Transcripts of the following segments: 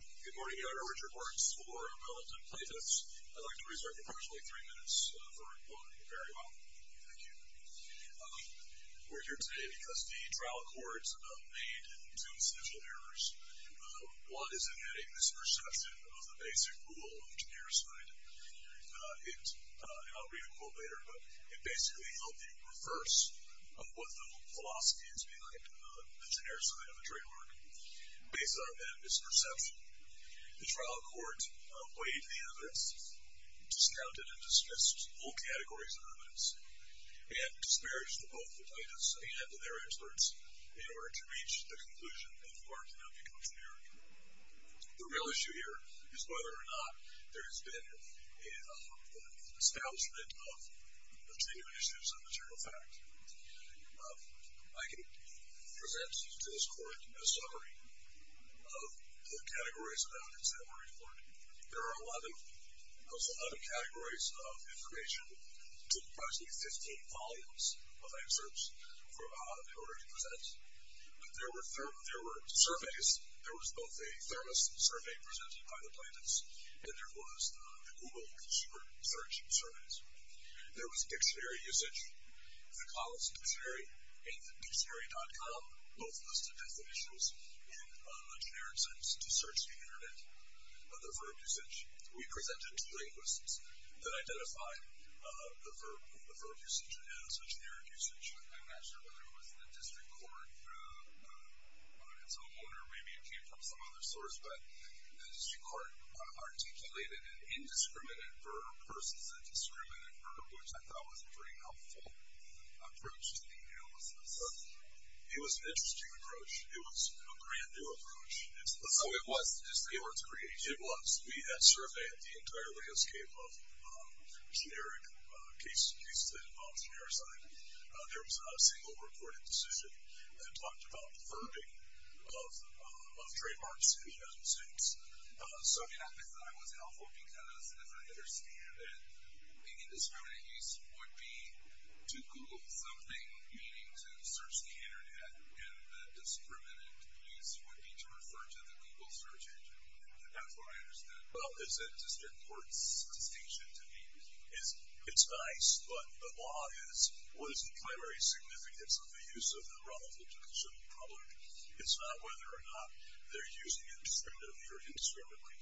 Good morning, I'm Richard Marks for Wellington Playtests. I'd like to reserve approximately three minutes for quoting very well. Thank you. We're here today because the trial court made two essential errors. One is it had a misperception of the basic rule of Janiricide. I'll read a quote later, but it basically held the reverse of what the philosophy is behind the Janiricide of the trademark. Based on that misperception, the trial court weighed the evidence, discounted and dismissed all categories of evidence, and disparaged both the plaintiffs and their experts in order to reach the conclusion that Mark cannot be considered. The real issue here is whether or not there has been an establishment of genuine issues of the general fact. I can present to this court a summary of the categories of evidence that were reported. There are a lot of categories of information. It took approximately 15 volumes of excerpts in order to present. There were surveys. There was both a thermos survey presented by the plaintiffs, and there was the Google search surveys. There was dictionary usage, the college dictionary and dictionary.com, both listed definitions in a generic sense to search the Internet. The verb usage, we presented two linguists that identified the verb usage as a generic usage. I'm not sure whether it was the district court, whether it's a homeowner, maybe it came from some other source, but the district court articulated an indiscriminate verb versus a discriminant verb, which I thought was a pretty helpful approach to the analysis. It was an interesting approach. It was a brand-new approach. So it was. It was creative. It was. We had surveyed the entire landscape of generic cases that involved generosity. There was not a single reported decision that talked about the verbing of trademarks in the United States. So, yeah, I thought it was helpful because, as I understand it, the indiscriminate use would be to Google something, meaning to search the Internet, and the discriminant use would be to refer to the Google search engine. That's what I understand. Well, it's a district court's distinction to me. It's nice, but the law is, what is the primary significance of the use of the relative to consumer product? It's not whether or not they're used indiscriminately or indiscriminately.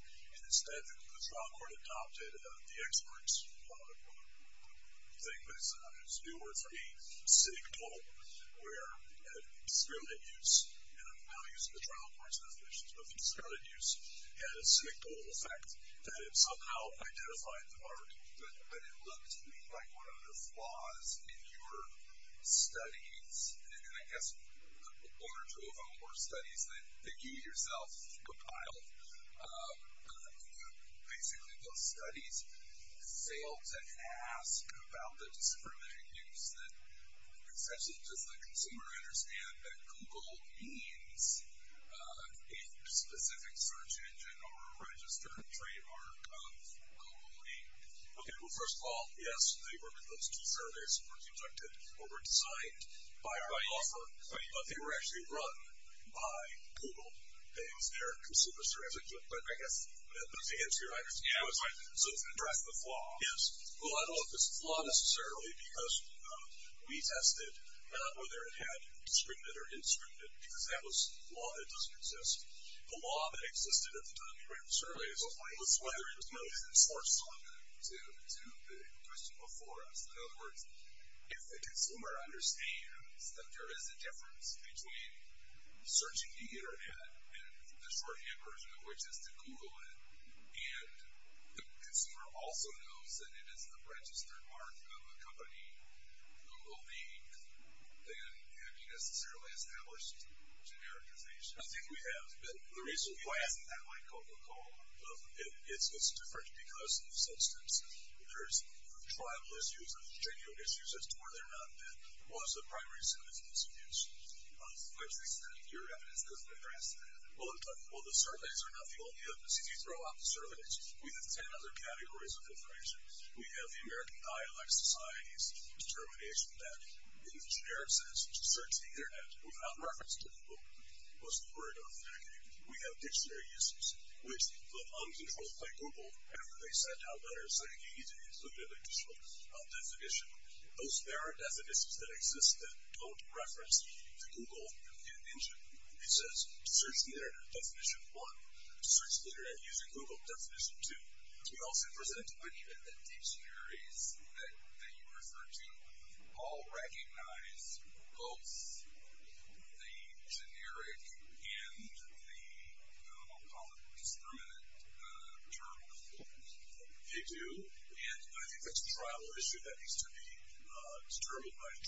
Instead, the trial court adopted the expert's thing that sometimes is a new word for me, cynical, where discriminant use, and I'm not using the trial court's definitions, but discriminant use had a cynical effect that it somehow identified the verb. But it looked to me like one of the flaws in your studies, and I guess one or two of them were studies that you yourself compiled. Basically, those studies failed to ask about the discriminant use, and the question is, essentially, does the consumer understand that Google means a specific search engine or a registered trademark of Google? Okay, well, first of all, yes, those two surveys were projected or were designed by our offer, but they were actually run by Google. It was their consumer service, but I guess that's the answer. Yeah, that's right. So it's an addressable flaw. Yes. Well, I don't know if it's a flaw necessarily, because we tested whether it had discriminant or indiscriminant, because that was a flaw that doesn't exist. The flaw that existed at the time we ran the surveys was whether it knows the source to the question before us. In other words, if the consumer understands that there is a difference between searching the Internet and the shorthand version of which is to Google it, and the consumer also knows that it is a registered trademark of a company, Google means, then have you necessarily established a genericization? I think we have. But the reason why it hasn't had my Coca-Cola, it's different because of substance. There's tribal issues and general issues as to whether or not that was a primary source of discrimination. To what extent? Your evidence doesn't address that. Well, the surveys are nothing. Well, the evidence, if you throw out the surveys, we have ten other categories of information. We have the American Dialect Society's determination that, in the generic sense, to search the Internet without reference to Google was the word of the decade. We have dictionary uses, which the uncontrolled by Google, after they said how letters they need to include an initial definition, those there are definitions that exist that don't reference the Google engine. It says, search the Internet, definition one. Search the Internet using Google, definition two. We also present. But even the deep theories that you refer to all recognize both the generic and the, I'll call it, discriminant terms. They do, and I think that's a tribal issue that needs to be determined by ensuring generics is a factual question. But if the jury understands there's a difference between generics, if the average consumer understands that there is a distinction between the two, why have you established genericization? It just means that you've developed a shorthand term, and that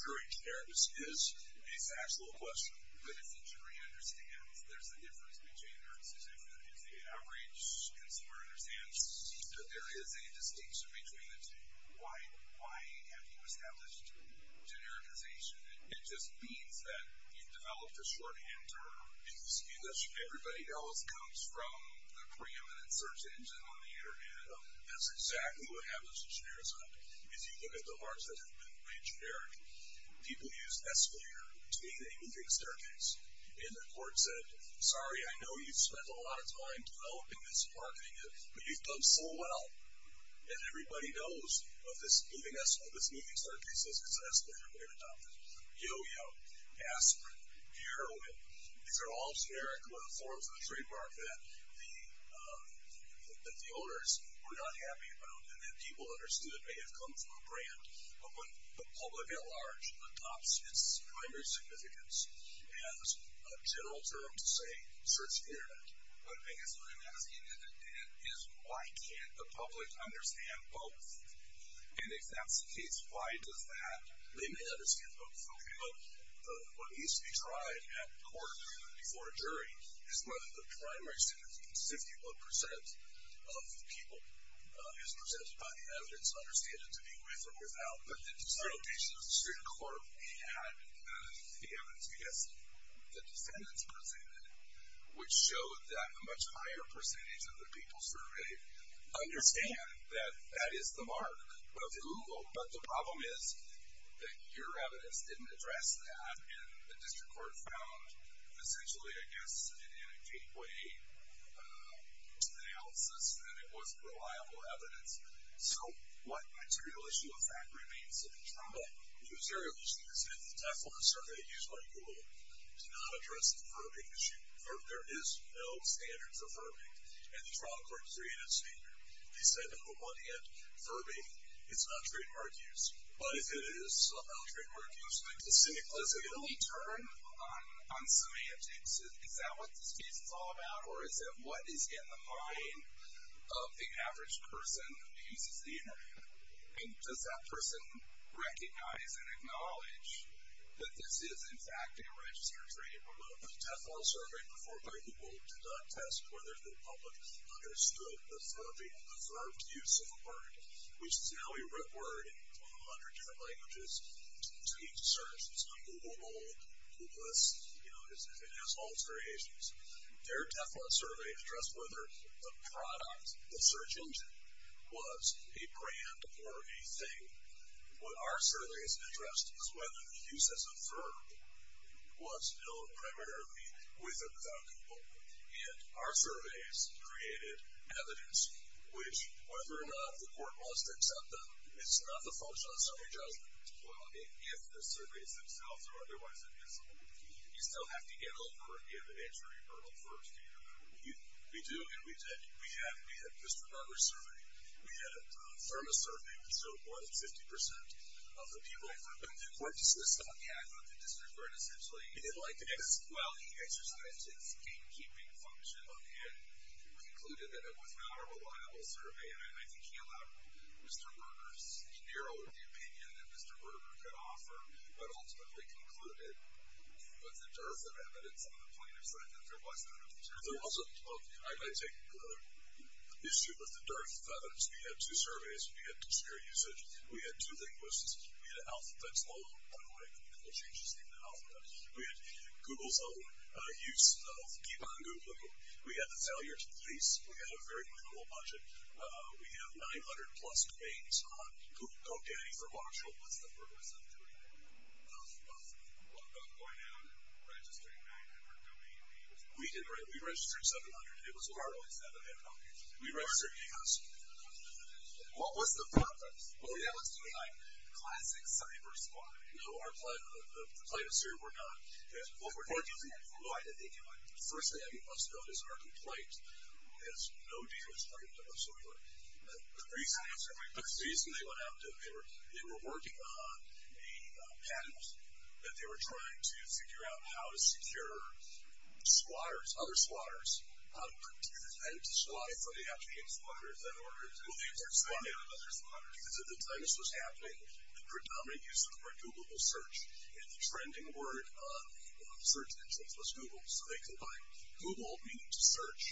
everybody else comes from the preeminent search engine on the Internet. That's exactly what happens with genericism. If you look at the words that have been re-generic, people use Escalator, to mean a moving staircase. And the court said, sorry, I know you've spent a lot of time developing this, marketing it, but you've done so well, and everybody knows what this moving staircase is. It's an escalator. We're going to top it. Yo-Yo, Aspirin, Heroin, these are all generic forms of the trademark that the owners were not happy about, and that people understood may have come from a brand. But when the public at large adopts its primary significance as a general term to say search the Internet, one thing is I'm asking is why can't the public understand both? And if that's the case, why does that? They may understand both. Okay, but what needs to be tried at court before a jury is whether the primary significance, 51% of people, is presented by the evidence, understand it to be with or without. But the district court had the evidence, I guess the defendants presented, which showed that a much higher percentage of the people sort of really understand that that is the mark of Google. But the problem is that your evidence didn't address that, and the district court found essentially, I guess, in a gateway analysis that it wasn't reliable evidence. So what material issue of that remains to be tried? What was very interesting is that the Teflon survey used by Google did not address the verbing issue. There is no standard for verbing, and the trial court created a standard. They said that on the one hand, verbing, it's not trademark use. But if it is somehow trademark use, then to say it was illegal. When we turn on semantics, is that what this case is all about, or is it what is in the mind of the average person who uses the Internet? Does that person recognize and acknowledge that this is, in fact, a registered trademark? The Teflon survey performed by Google did not test whether the public understood the verbing, the verb use of a word, which is now a root word in 100 different languages. To each search, it's on Google Gold, Google List, it has all its variations. Their Teflon survey addressed whether the product, the search engine, was a brand or a thing. What our survey has addressed is whether the use as a verb was known primarily with or without Google. And our surveys created evidence which, whether or not the court wants to accept them, it's not the function of the survey judgment. Well, if the surveys themselves are otherwise admissible, do you still have to get a court to give an injury or a verb to you? We do, and we did. We had Mr. Berger's survey. We had a Thermos survey, which showed more than 50% of the people in the court dismissed on the act. But the district court essentially didn't like it. Well, he exercised his game-keeping function and concluded that it was not a reliable survey, and I think he elaborated Mr. Berger's, he narrowed the opinion that Mr. Berger could offer, but ultimately concluded with the dearth of evidence on the plaintiff's side that there was none of the terrible evidence. I take issue with the dearth of evidence. We had two surveys. We had two-year usage. We had two linguists. We had an alphabet slogan. By the way, no changes in the alphabet. We had Google's own use of Keep on Googling. We had the failure to police. We had a very minimal budget. We have 900-plus domains on Google. Don't get any from Oxford. What's the purpose of doing that? Of what? Of going out and registering 900 domain names? We did. We registered 700. It was horrible. We registered 8,000. What was the purpose? Well, yeah, let's do a classic cyber squad. No, the plaintiffs here were not. What were they doing? Why did they do it? The first thing that we must note is our complaint has no deal in front of it whatsoever. The reason they went out and did it, they were working on a patent that they were trying to figure out how to secure squatters, other squatters, how to protect and defend the squad from the African squatters that were there. Well, they weren't squatters. They were other squatters. Because at the time this was happening, the predominant use of the word Google was search. And the trending word on search engines was Google. So they combined Google, meaning to search,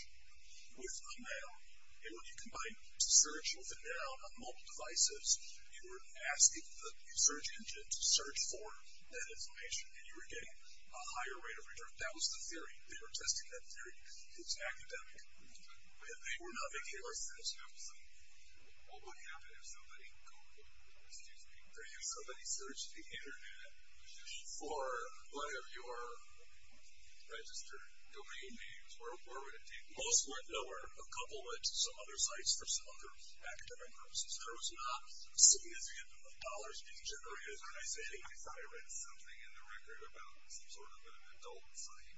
with a mail. And when you combined search with a mail on mobile devices, you were asking the search engine to search for that information, and you were getting a higher rate of return. That was the theory. They were testing that theory. It's academic. And they were not making any sense. What would happen if somebody searched the Internet for one of your registered domain names? Where would it take you? Most would know a couple of some other sites for some other academic purposes. There was not a significant amount of dollars being generated. I thought I read something in the record about some sort of an adult site.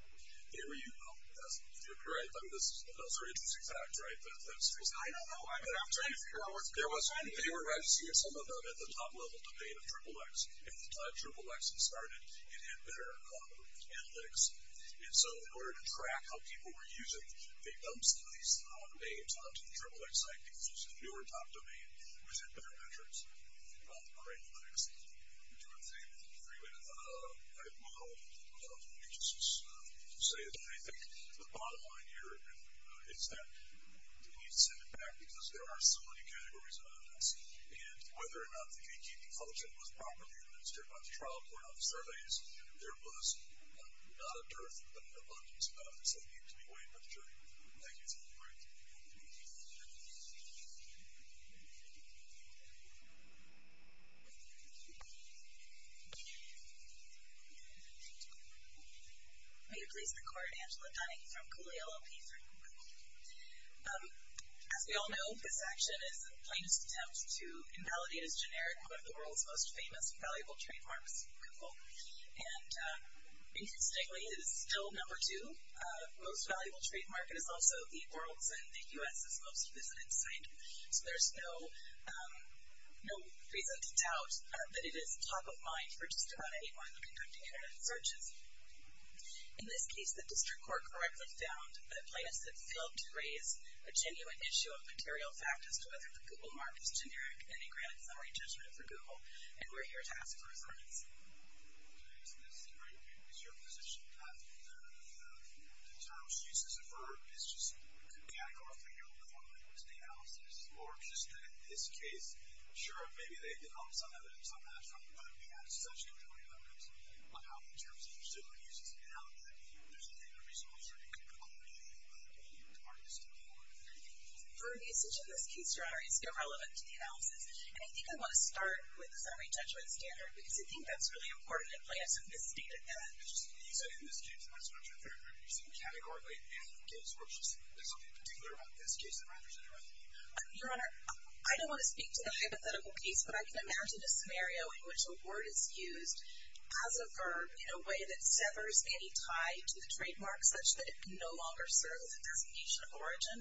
Here you go. Those are interesting facts, right? I don't know. I'm trying to figure out what's going on. They were registering some of them at the top level domain of XXX. And by the time XXX started, it had better analytics. And so in order to track how people were using, they dumped some of these names onto the XXX site because there was a fewer top domain which had better metrics. All right. Let me do one thing. I'm going to move on. Let me just say that I think the bottom line here is that we need to send it back because there are so many categories on this. And whether or not the KTP function was properly administered by the trial court on surveys, there was not a dearth of abundance of this. I think it can be weighed by the jury. Thank you for the break. Will you please record Angela Dunning from CoolieLLP3. As we all know, this action is a plaintiff's attempt to invalidate as generic one of the world's most famous valuable trademarks, Google. And interestingly, it is still number two most valuable trademark and is also the world's and the U.S.'s most visited site. So there's no reason to doubt that it is top of mind for just about anyone conducting internet searches. In this case, the district court correctly found that plaintiffs had failed to raise a genuine issue of material fact as to whether the Google mark is generic and they granted summary judgment for Google. And we're here to ask for a resonance. Okay, isn't this great? Is your position that the term she uses, a verb, is just a mechanical or a figurative form of linguistic analysis? Or just that in this case, I'm sure maybe they've developed some evidence on that from whether we have such controversial evidence on how, in terms of the use of this analogy, does it make a reasonable assertion to conclude that Google mark is generic? For usage in this case, Your Honor, it's irrelevant to the analysis. And I think I want to start with the summary judgment standard because I think that's really important in plaintiffs who misstated that. You said in this case, that's not your third argument. You said categorically and in case works. Is there something particular about this case that matters in your opinion? Your Honor, I don't want to speak to the hypothetical case, but I can imagine a scenario in which a word is used as a verb in a way that severs any tie to the trademark such that it can no longer serve as a designation of origin.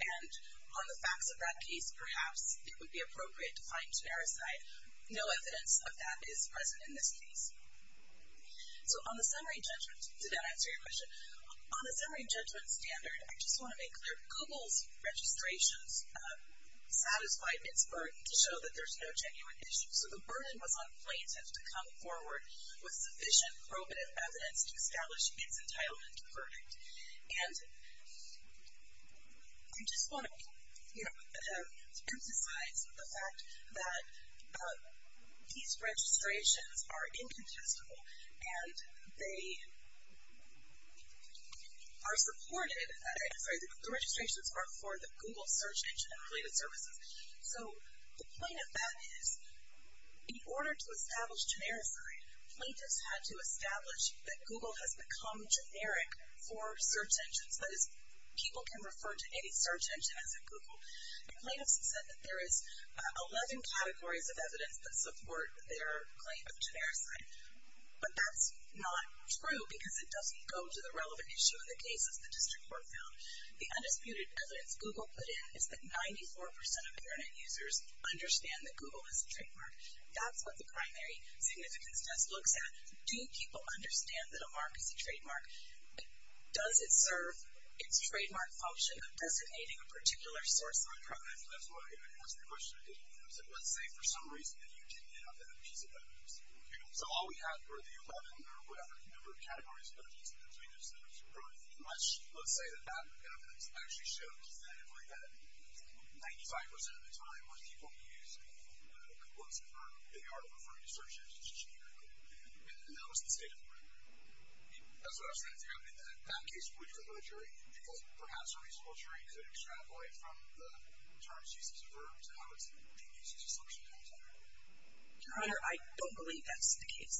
And on the facts of that case, perhaps it would be appropriate to find genericity. No evidence of that is present in this case. So on the summary judgment standard, I just want to make clear, that Google's registrations satisfied its burden to show that there's no genuine issue. So the burden was on plaintiffs to come forward with sufficient probative evidence to establish its entitlement to verdict. And I just want to, you know, emphasize the fact that these registrations are incontestable and the registrations are for the Google search engine and related services. So the point of that is, in order to establish genericity, plaintiffs had to establish that Google has become generic for search engines. That is, people can refer to any search engine as a Google. And plaintiffs have said that there is 11 categories of evidence that support their claim of genericity. But that's not true because it doesn't go to the relevant issue in the cases the district court found. The undisputed evidence Google put in is that 94% of Internet users understand that Google is a trademark. That's what the primary significance test looks at. Do people understand that a mark is a trademark? Does it serve its trademark function of designating a particular source? That's the question I didn't answer. Let's say for some reason that you didn't have that piece of evidence. So all we have are the 11 or whatever number of categories of evidence that the plaintiffs have supported. Let's say that that evidence actually shows definitively that 95% of the time when people use Google as a term, they are referring to search engines as generic. And that was the state of the order. That's what I was trying to do. In that case, would the military be perhaps a reasonable jury to extrapolate from the terms used as a verb to how it's being used as a search engine? Your Honor, I don't believe that's the case.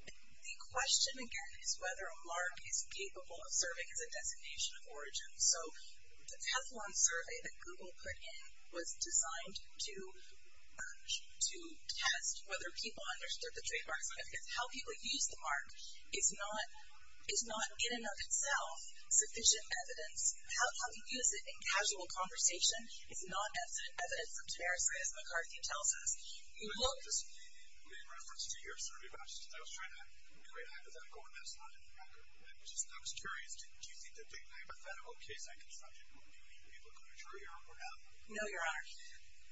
The question, again, is whether a mark is capable of serving as a designation of origin. So the Teflon survey that Google put in was designed to test whether people understood the trademark significance. How people use the mark is not in and of itself sufficient evidence. How we use it in casual conversation is not evidence of terrorism, as McCarthy tells us. You made reference to your survey, but I was trying to create hypothetical evidence that's not in the record, which is, I was curious, do you think that the hypothetical case I constructed, do you think people could be a jury or not? No, Your Honor.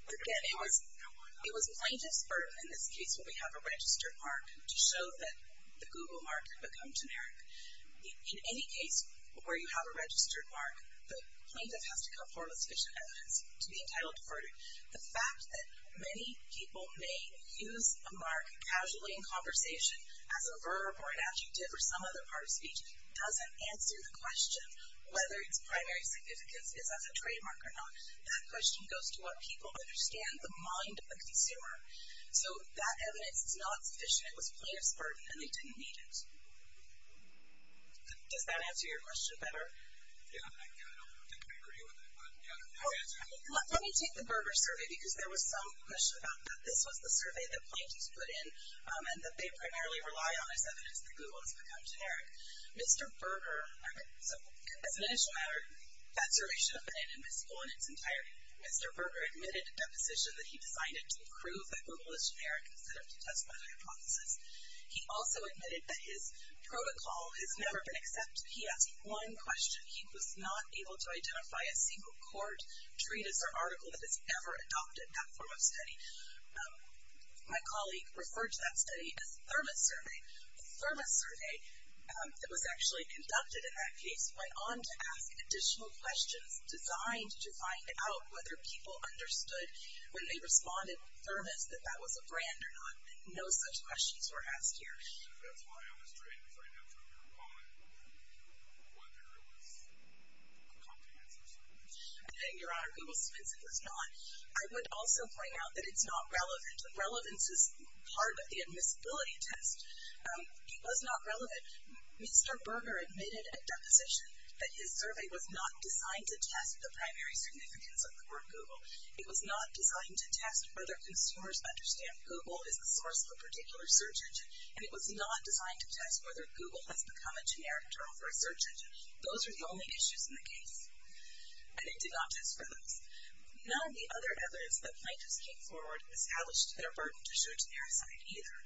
Again, it was plaintiff's burden in this case when we have a registered mark to show that the Google mark had become generic. In any case where you have a registered mark, the plaintiff has to come forward with sufficient evidence to be entitled to verdict. The fact that many people may use a mark casually in conversation as a verb or an adjective or some other part of speech doesn't answer the question whether its primary significance is as a trademark or not. That question goes to what people understand, the mind of the consumer. So that evidence is not sufficient. It was a plaintiff's burden, and they didn't need it. Does that answer your question better? Yeah, I don't think I agree with it. Let me take the Berger survey, because there was some question about that. This was the survey that plaintiffs put in and that they primarily rely on as evidence that Google has become generic. Mr. Berger, as an initial matter, that survey should have been an invisible in its entirety. Mr. Berger admitted a deposition that he designed it to prove that Google is generic instead of to test one of the hypotheses. He also admitted that his protocol has never been accepted. He asked one question. He was not able to identify a secret court treatise or article that has ever adopted that form of study. My colleague referred to that study as the Thermos survey. The Thermos survey that was actually conducted in that case went on to ask additional questions designed to find out whether people understood when they responded with Thermos that that was a brand or not. No such questions were asked here. That's why I was trying to find out from your comment whether it was a comprehensive survey. I think, Your Honor, Google's dismissive was not. I would also point out that it's not relevant. Relevance is part of the admissibility test. It was not relevant. Mr. Berger admitted a deposition that his survey was not designed to test the primary significance of the word Google. It was not designed to test whether consumers understand Google is the source of a particular search engine, and it was not designed to test whether Google has become a generic term for a search engine. Those are the only issues in the case, and it did not test for those. None of the other evidence that plaintiffs came forward established their burden to show genericity either.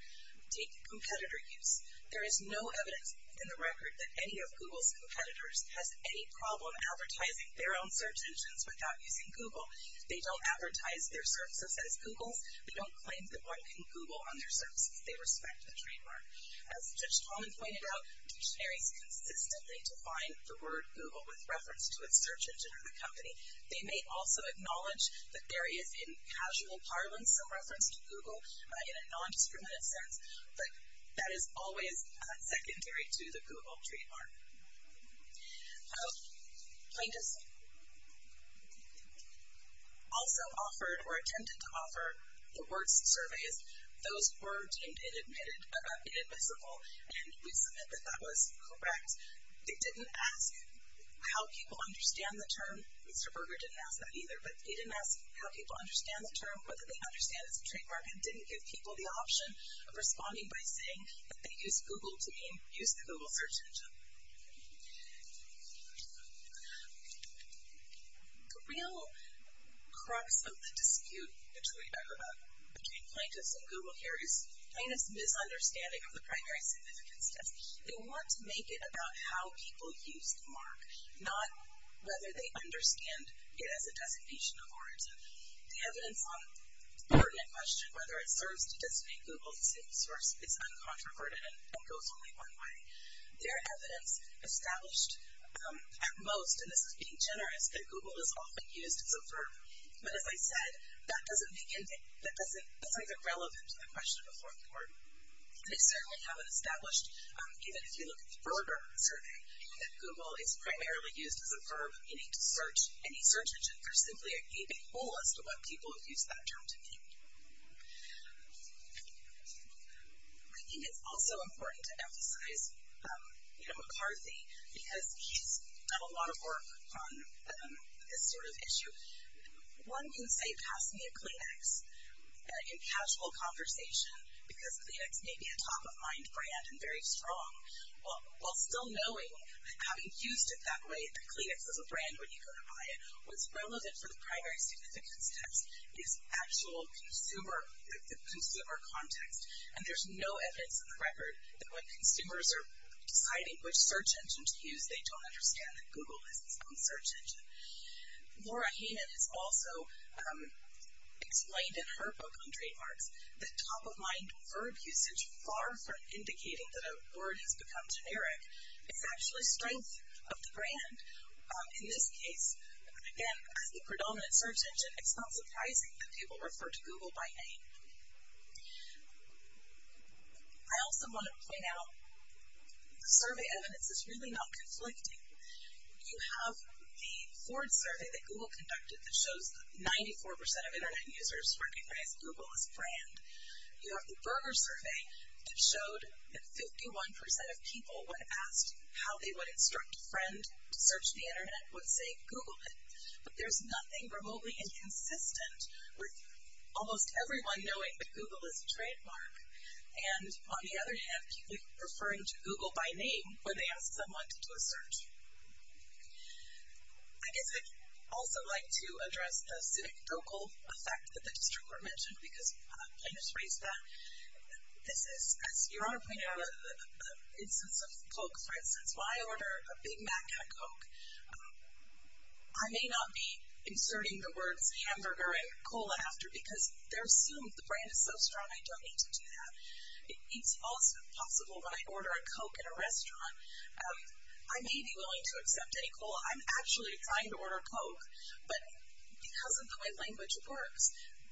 Take competitor use. There is no evidence in the record that any of Google's competitors has any problem advertising their own search engines without using Google. They don't advertise their services as Google's. They don't claim that one can Google on their services. They respect the trademark. As Judge Coleman pointed out, dictionaries consistently define the word Google with reference to its search engine or the company. They may also acknowledge that there is, in casual parlance, some reference to Google in a non-discriminative sense, but that is always secondary to the Google trademark. Plaintiffs also offered or attempted to offer the word surveys. Those were deemed inadmissible, and we submit that that was correct. They didn't ask how people understand the term. Mr. Berger didn't ask that either, but they didn't ask how people understand the term, whether they understand its trademark, and didn't give people the option of responding by saying that they used Google to use the Google search engine. The real crux of the dispute between Plaintiffs and Google here is Plaintiff's misunderstanding of the primary significance test. They want to make it about how people use the mark, not whether they understand it as a designation of words. The evidence on the pertinent question, whether it serves to designate Google as a single source, is uncontroverted and goes only one way. There is evidence established at most, and this is being generous, that Google is often used as a verb. But as I said, that doesn't make it relevant to the question of a fourth word. They certainly haven't established, even if you look at the Berger survey, that Google is primarily used as a verb, meaning to search any search engine. There's simply a gaping hole as to what people have used that term to mean. I think it's also important to emphasize McCarthy, because he's done a lot of work on this sort of issue. One can say, pass me a Kleenex, in casual conversation, because Kleenex may be a top-of-mind brand and very strong, while still knowing, having used it that way, that Kleenex is a brand, when you go to buy it, what's relevant for the primary significance test is actual consumer context. And there's no evidence on the record that when consumers are deciding which search engine to use, they don't understand that Google is its own search engine. Laura Heyman has also explained in her book on trademarks that top-of-mind verb usage, far from indicating that a word has become generic, is actually strength of the brand. In this case, again, as the predominant search engine, it's not surprising that people refer to Google by name. I also want to point out, the survey evidence is really not conflicting. You have the Ford survey that Google conducted that shows 94% of Internet users recognize Google as a brand. You have the Berger survey that showed that 51% of people when asked how they would instruct a friend to search the Internet would say, Google it. But there's nothing remotely inconsistent with almost everyone knowing that Google is a trademark. And on the other hand, people referring to Google by name when they ask someone to do a search. I guess I'd also like to address the anecdotal effect that the district court mentioned, because Kleenex raised that. This is, as Your Honor pointed out, an instance of Coke. For instance, when I order a Big Mac at Coke, I may not be inserting the words hamburger and cola after, because they're assumed, the brand is so strong, I don't need to do that. It's also possible when I order a Coke at a restaurant, I may be willing to accept any cola. I'm actually trying to order a Coke, but because of the way language works,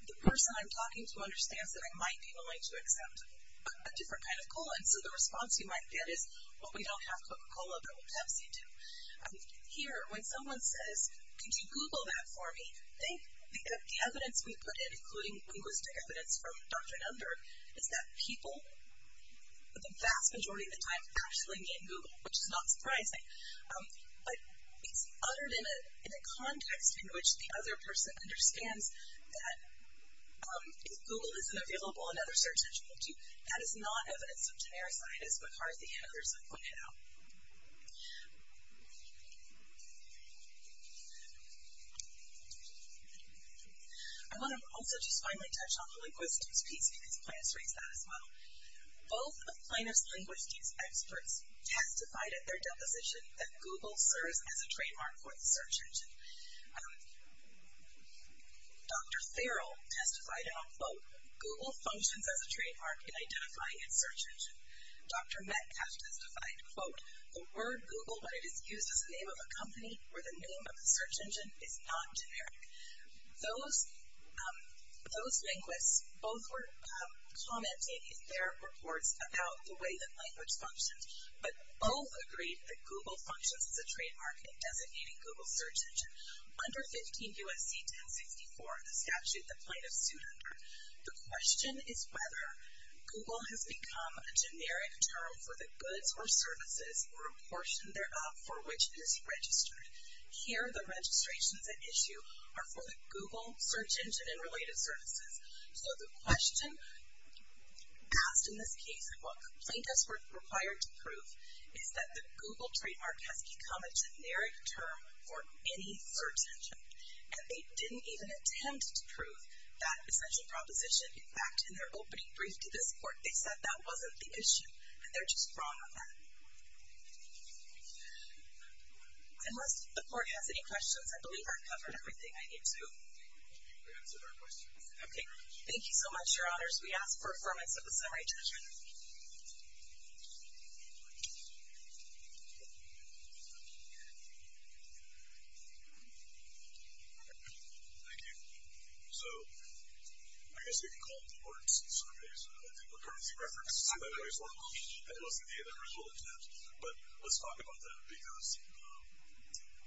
the person I'm talking to understands that I might be willing to accept a different kind of cola. And so the response you might get is, well, we don't have Coca-Cola, but we have Pepsi, too. Here, when someone says, could you Google that for me, the evidence we put in, including linguistic evidence from Dr. Nunder, is that people, the vast majority of the time, actually mean Google, which is not surprising. But it's uttered in a context in which the other person understands that if Google isn't available, another search engine will, too. That is not evidence of generosity, as McCarthy and others have pointed out. I want to also just finally touch on the linguistics piece, because Plano's raised that as well. Both of Plano's linguistics experts testified at their deposition that Google serves as a trademark for the search engine. Dr. Farrell testified in a quote, Google functions as a trademark in identifying its search engine. Dr. Metcalf testified, quote, the word Google, when it is used as the name of a company where the name of the search engine is non-generic. Those linguists both were commenting in their reports about the way that language functions, but both agreed that Google functions as a trademark in designating Google's search engine. Under 15 U.S.C. 1064, the statute that Plano sued under, the question is whether Google has become a generic term for the goods or services or a portion thereof for which it is registered. Here, the registrations at issue are for the Google search engine and related services. So the question asked in this case, what complaint is required to prove, is that the Google trademark has become a generic term for any search engine? And they didn't even attempt to prove that essential proposition back in their opening brief to this court. They said that wasn't the issue, and they're just wrong on that. Unless the court has any questions, I believe I've covered everything I need to. Okay, thank you so much, your honors. We ask for affirmation of the summary judgment. Thank you. So I guess we can call it the Orenson Surveys. I think we're currently referencing that every so often. That wasn't the end result of that. But let's talk about that, because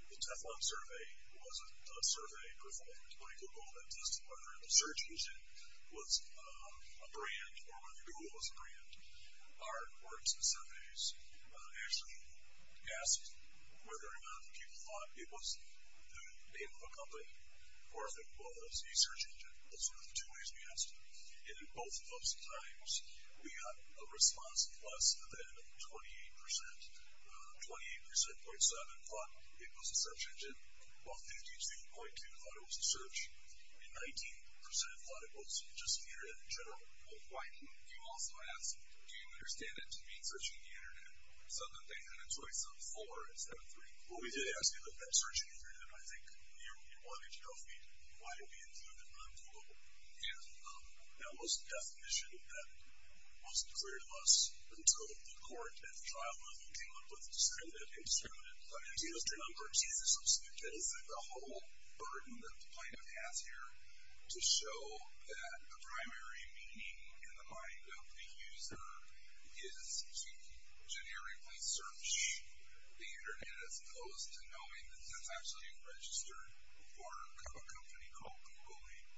the Teflon survey was a survey performed by Google that tested whether the search engine was a brand or whether Google was a brand. Our Orenson Surveys actually asked whether or not people thought it was the name of a company or if it was a search engine. Those were the two ways we asked it. And in both of those times, we got a response of less than 28%. 28.7% thought it was a search engine, while 52.2% thought it was a search, and 19% thought it was just the Internet in general. Well, why didn't you also ask, do you understand it to be searching the Internet? So then they had a choice of 4 instead of 3. Well, we did ask you that search engine, and I think you wanted to know why it would be included on Google. And that was the definition that was declared to us until the court at the trial level came up with discriminative, indiscriminate, unregistered, uncertainties, and subscriptions. The whole burden that the plaintiff has here to show that the primary meaning in the mind of the user is to generically search the Internet as opposed to knowing that it's actually registered for a company called Google Inc.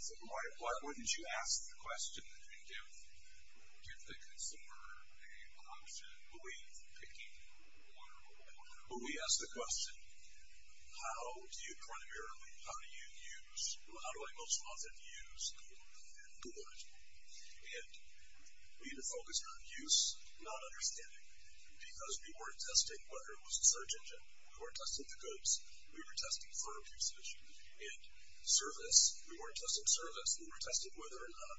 So why wouldn't you ask the question and give the consumer an option, believe, picking one or the other? Well, we asked the question, how do you primarily, how do you use, how do I most often use Google? And we had a focus on use, not understanding, because we weren't testing whether it was a search engine. We weren't testing the goods. We were testing firm usage and service. We weren't testing service. We were testing whether or not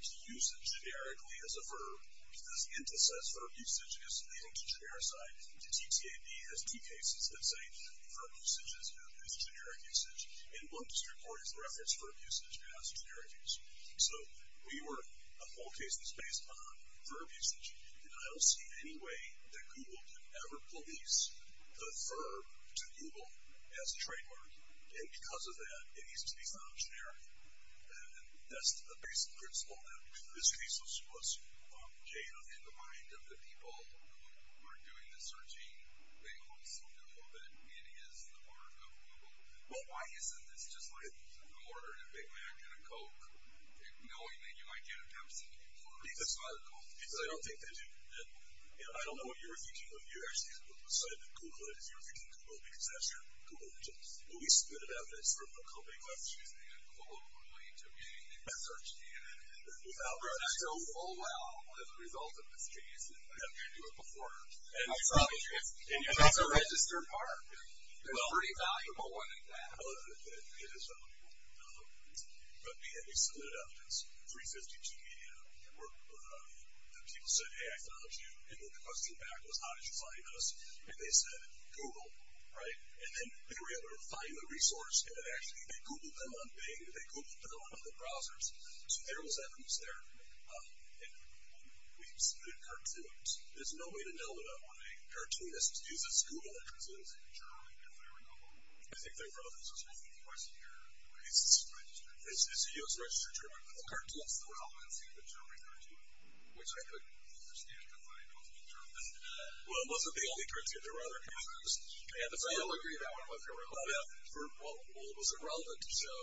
the usage, generically as a firm, because the Intis says firm usage is leading to genericity. The TTAB has 2 cases that say firm usage is generic usage, and one district court has referenced that firm usage as generic usage. So we were a whole case that's based on firm usage, and I don't see any way that Google can ever police the firm to Google as a trademark, and because of that, it needs to be found generic. And that's the basic principle that this case was gained on. In the mind of the people who are doing the searching, they also know that it is part of Google. Well, why isn't this just like an order of a Big Mac and a Coke, knowing that you might get a Pepsi before? Because I don't think they do. I don't know what you were thinking when you actually decided to Google it. If you were thinking Google, because that's your Google, we spitted out this from a company class, using a Coca-Cola to be a search engine. And it's done so well as a result of this case, and you can't do it before. And that's a registered part. It's a pretty valuable one, in fact. Well, it is valuable. But, again, we split it up. It's 352 media. The people said, hey, I found you, and the question back was, how did you find us? And they said, Google, right? And then they were able to find the resource, and then actually they Googled them on Bing, they Googled them on other browsers. So there was evidence there. And we split it in cartoons. There's no way to know about why cartoonists use this Google that translates into German if they're in Google. I think they wrote this as well. Is this registered? It's a US registered German cartoon. What's the relevancy of the German cartoon? Which I couldn't understand, because I don't speak German. Well, it wasn't the only cartoon. There were other cartoons. I don't agree with that one. Well, it wasn't relevant to show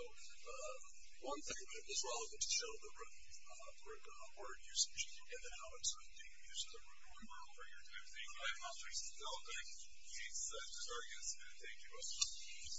one thing, but it was relevant to show the word usage and how it's being used in the real world. All right, well, thank you all for your time today. I'm Alfre Siddal. Thanks. This was very good. Thank you all.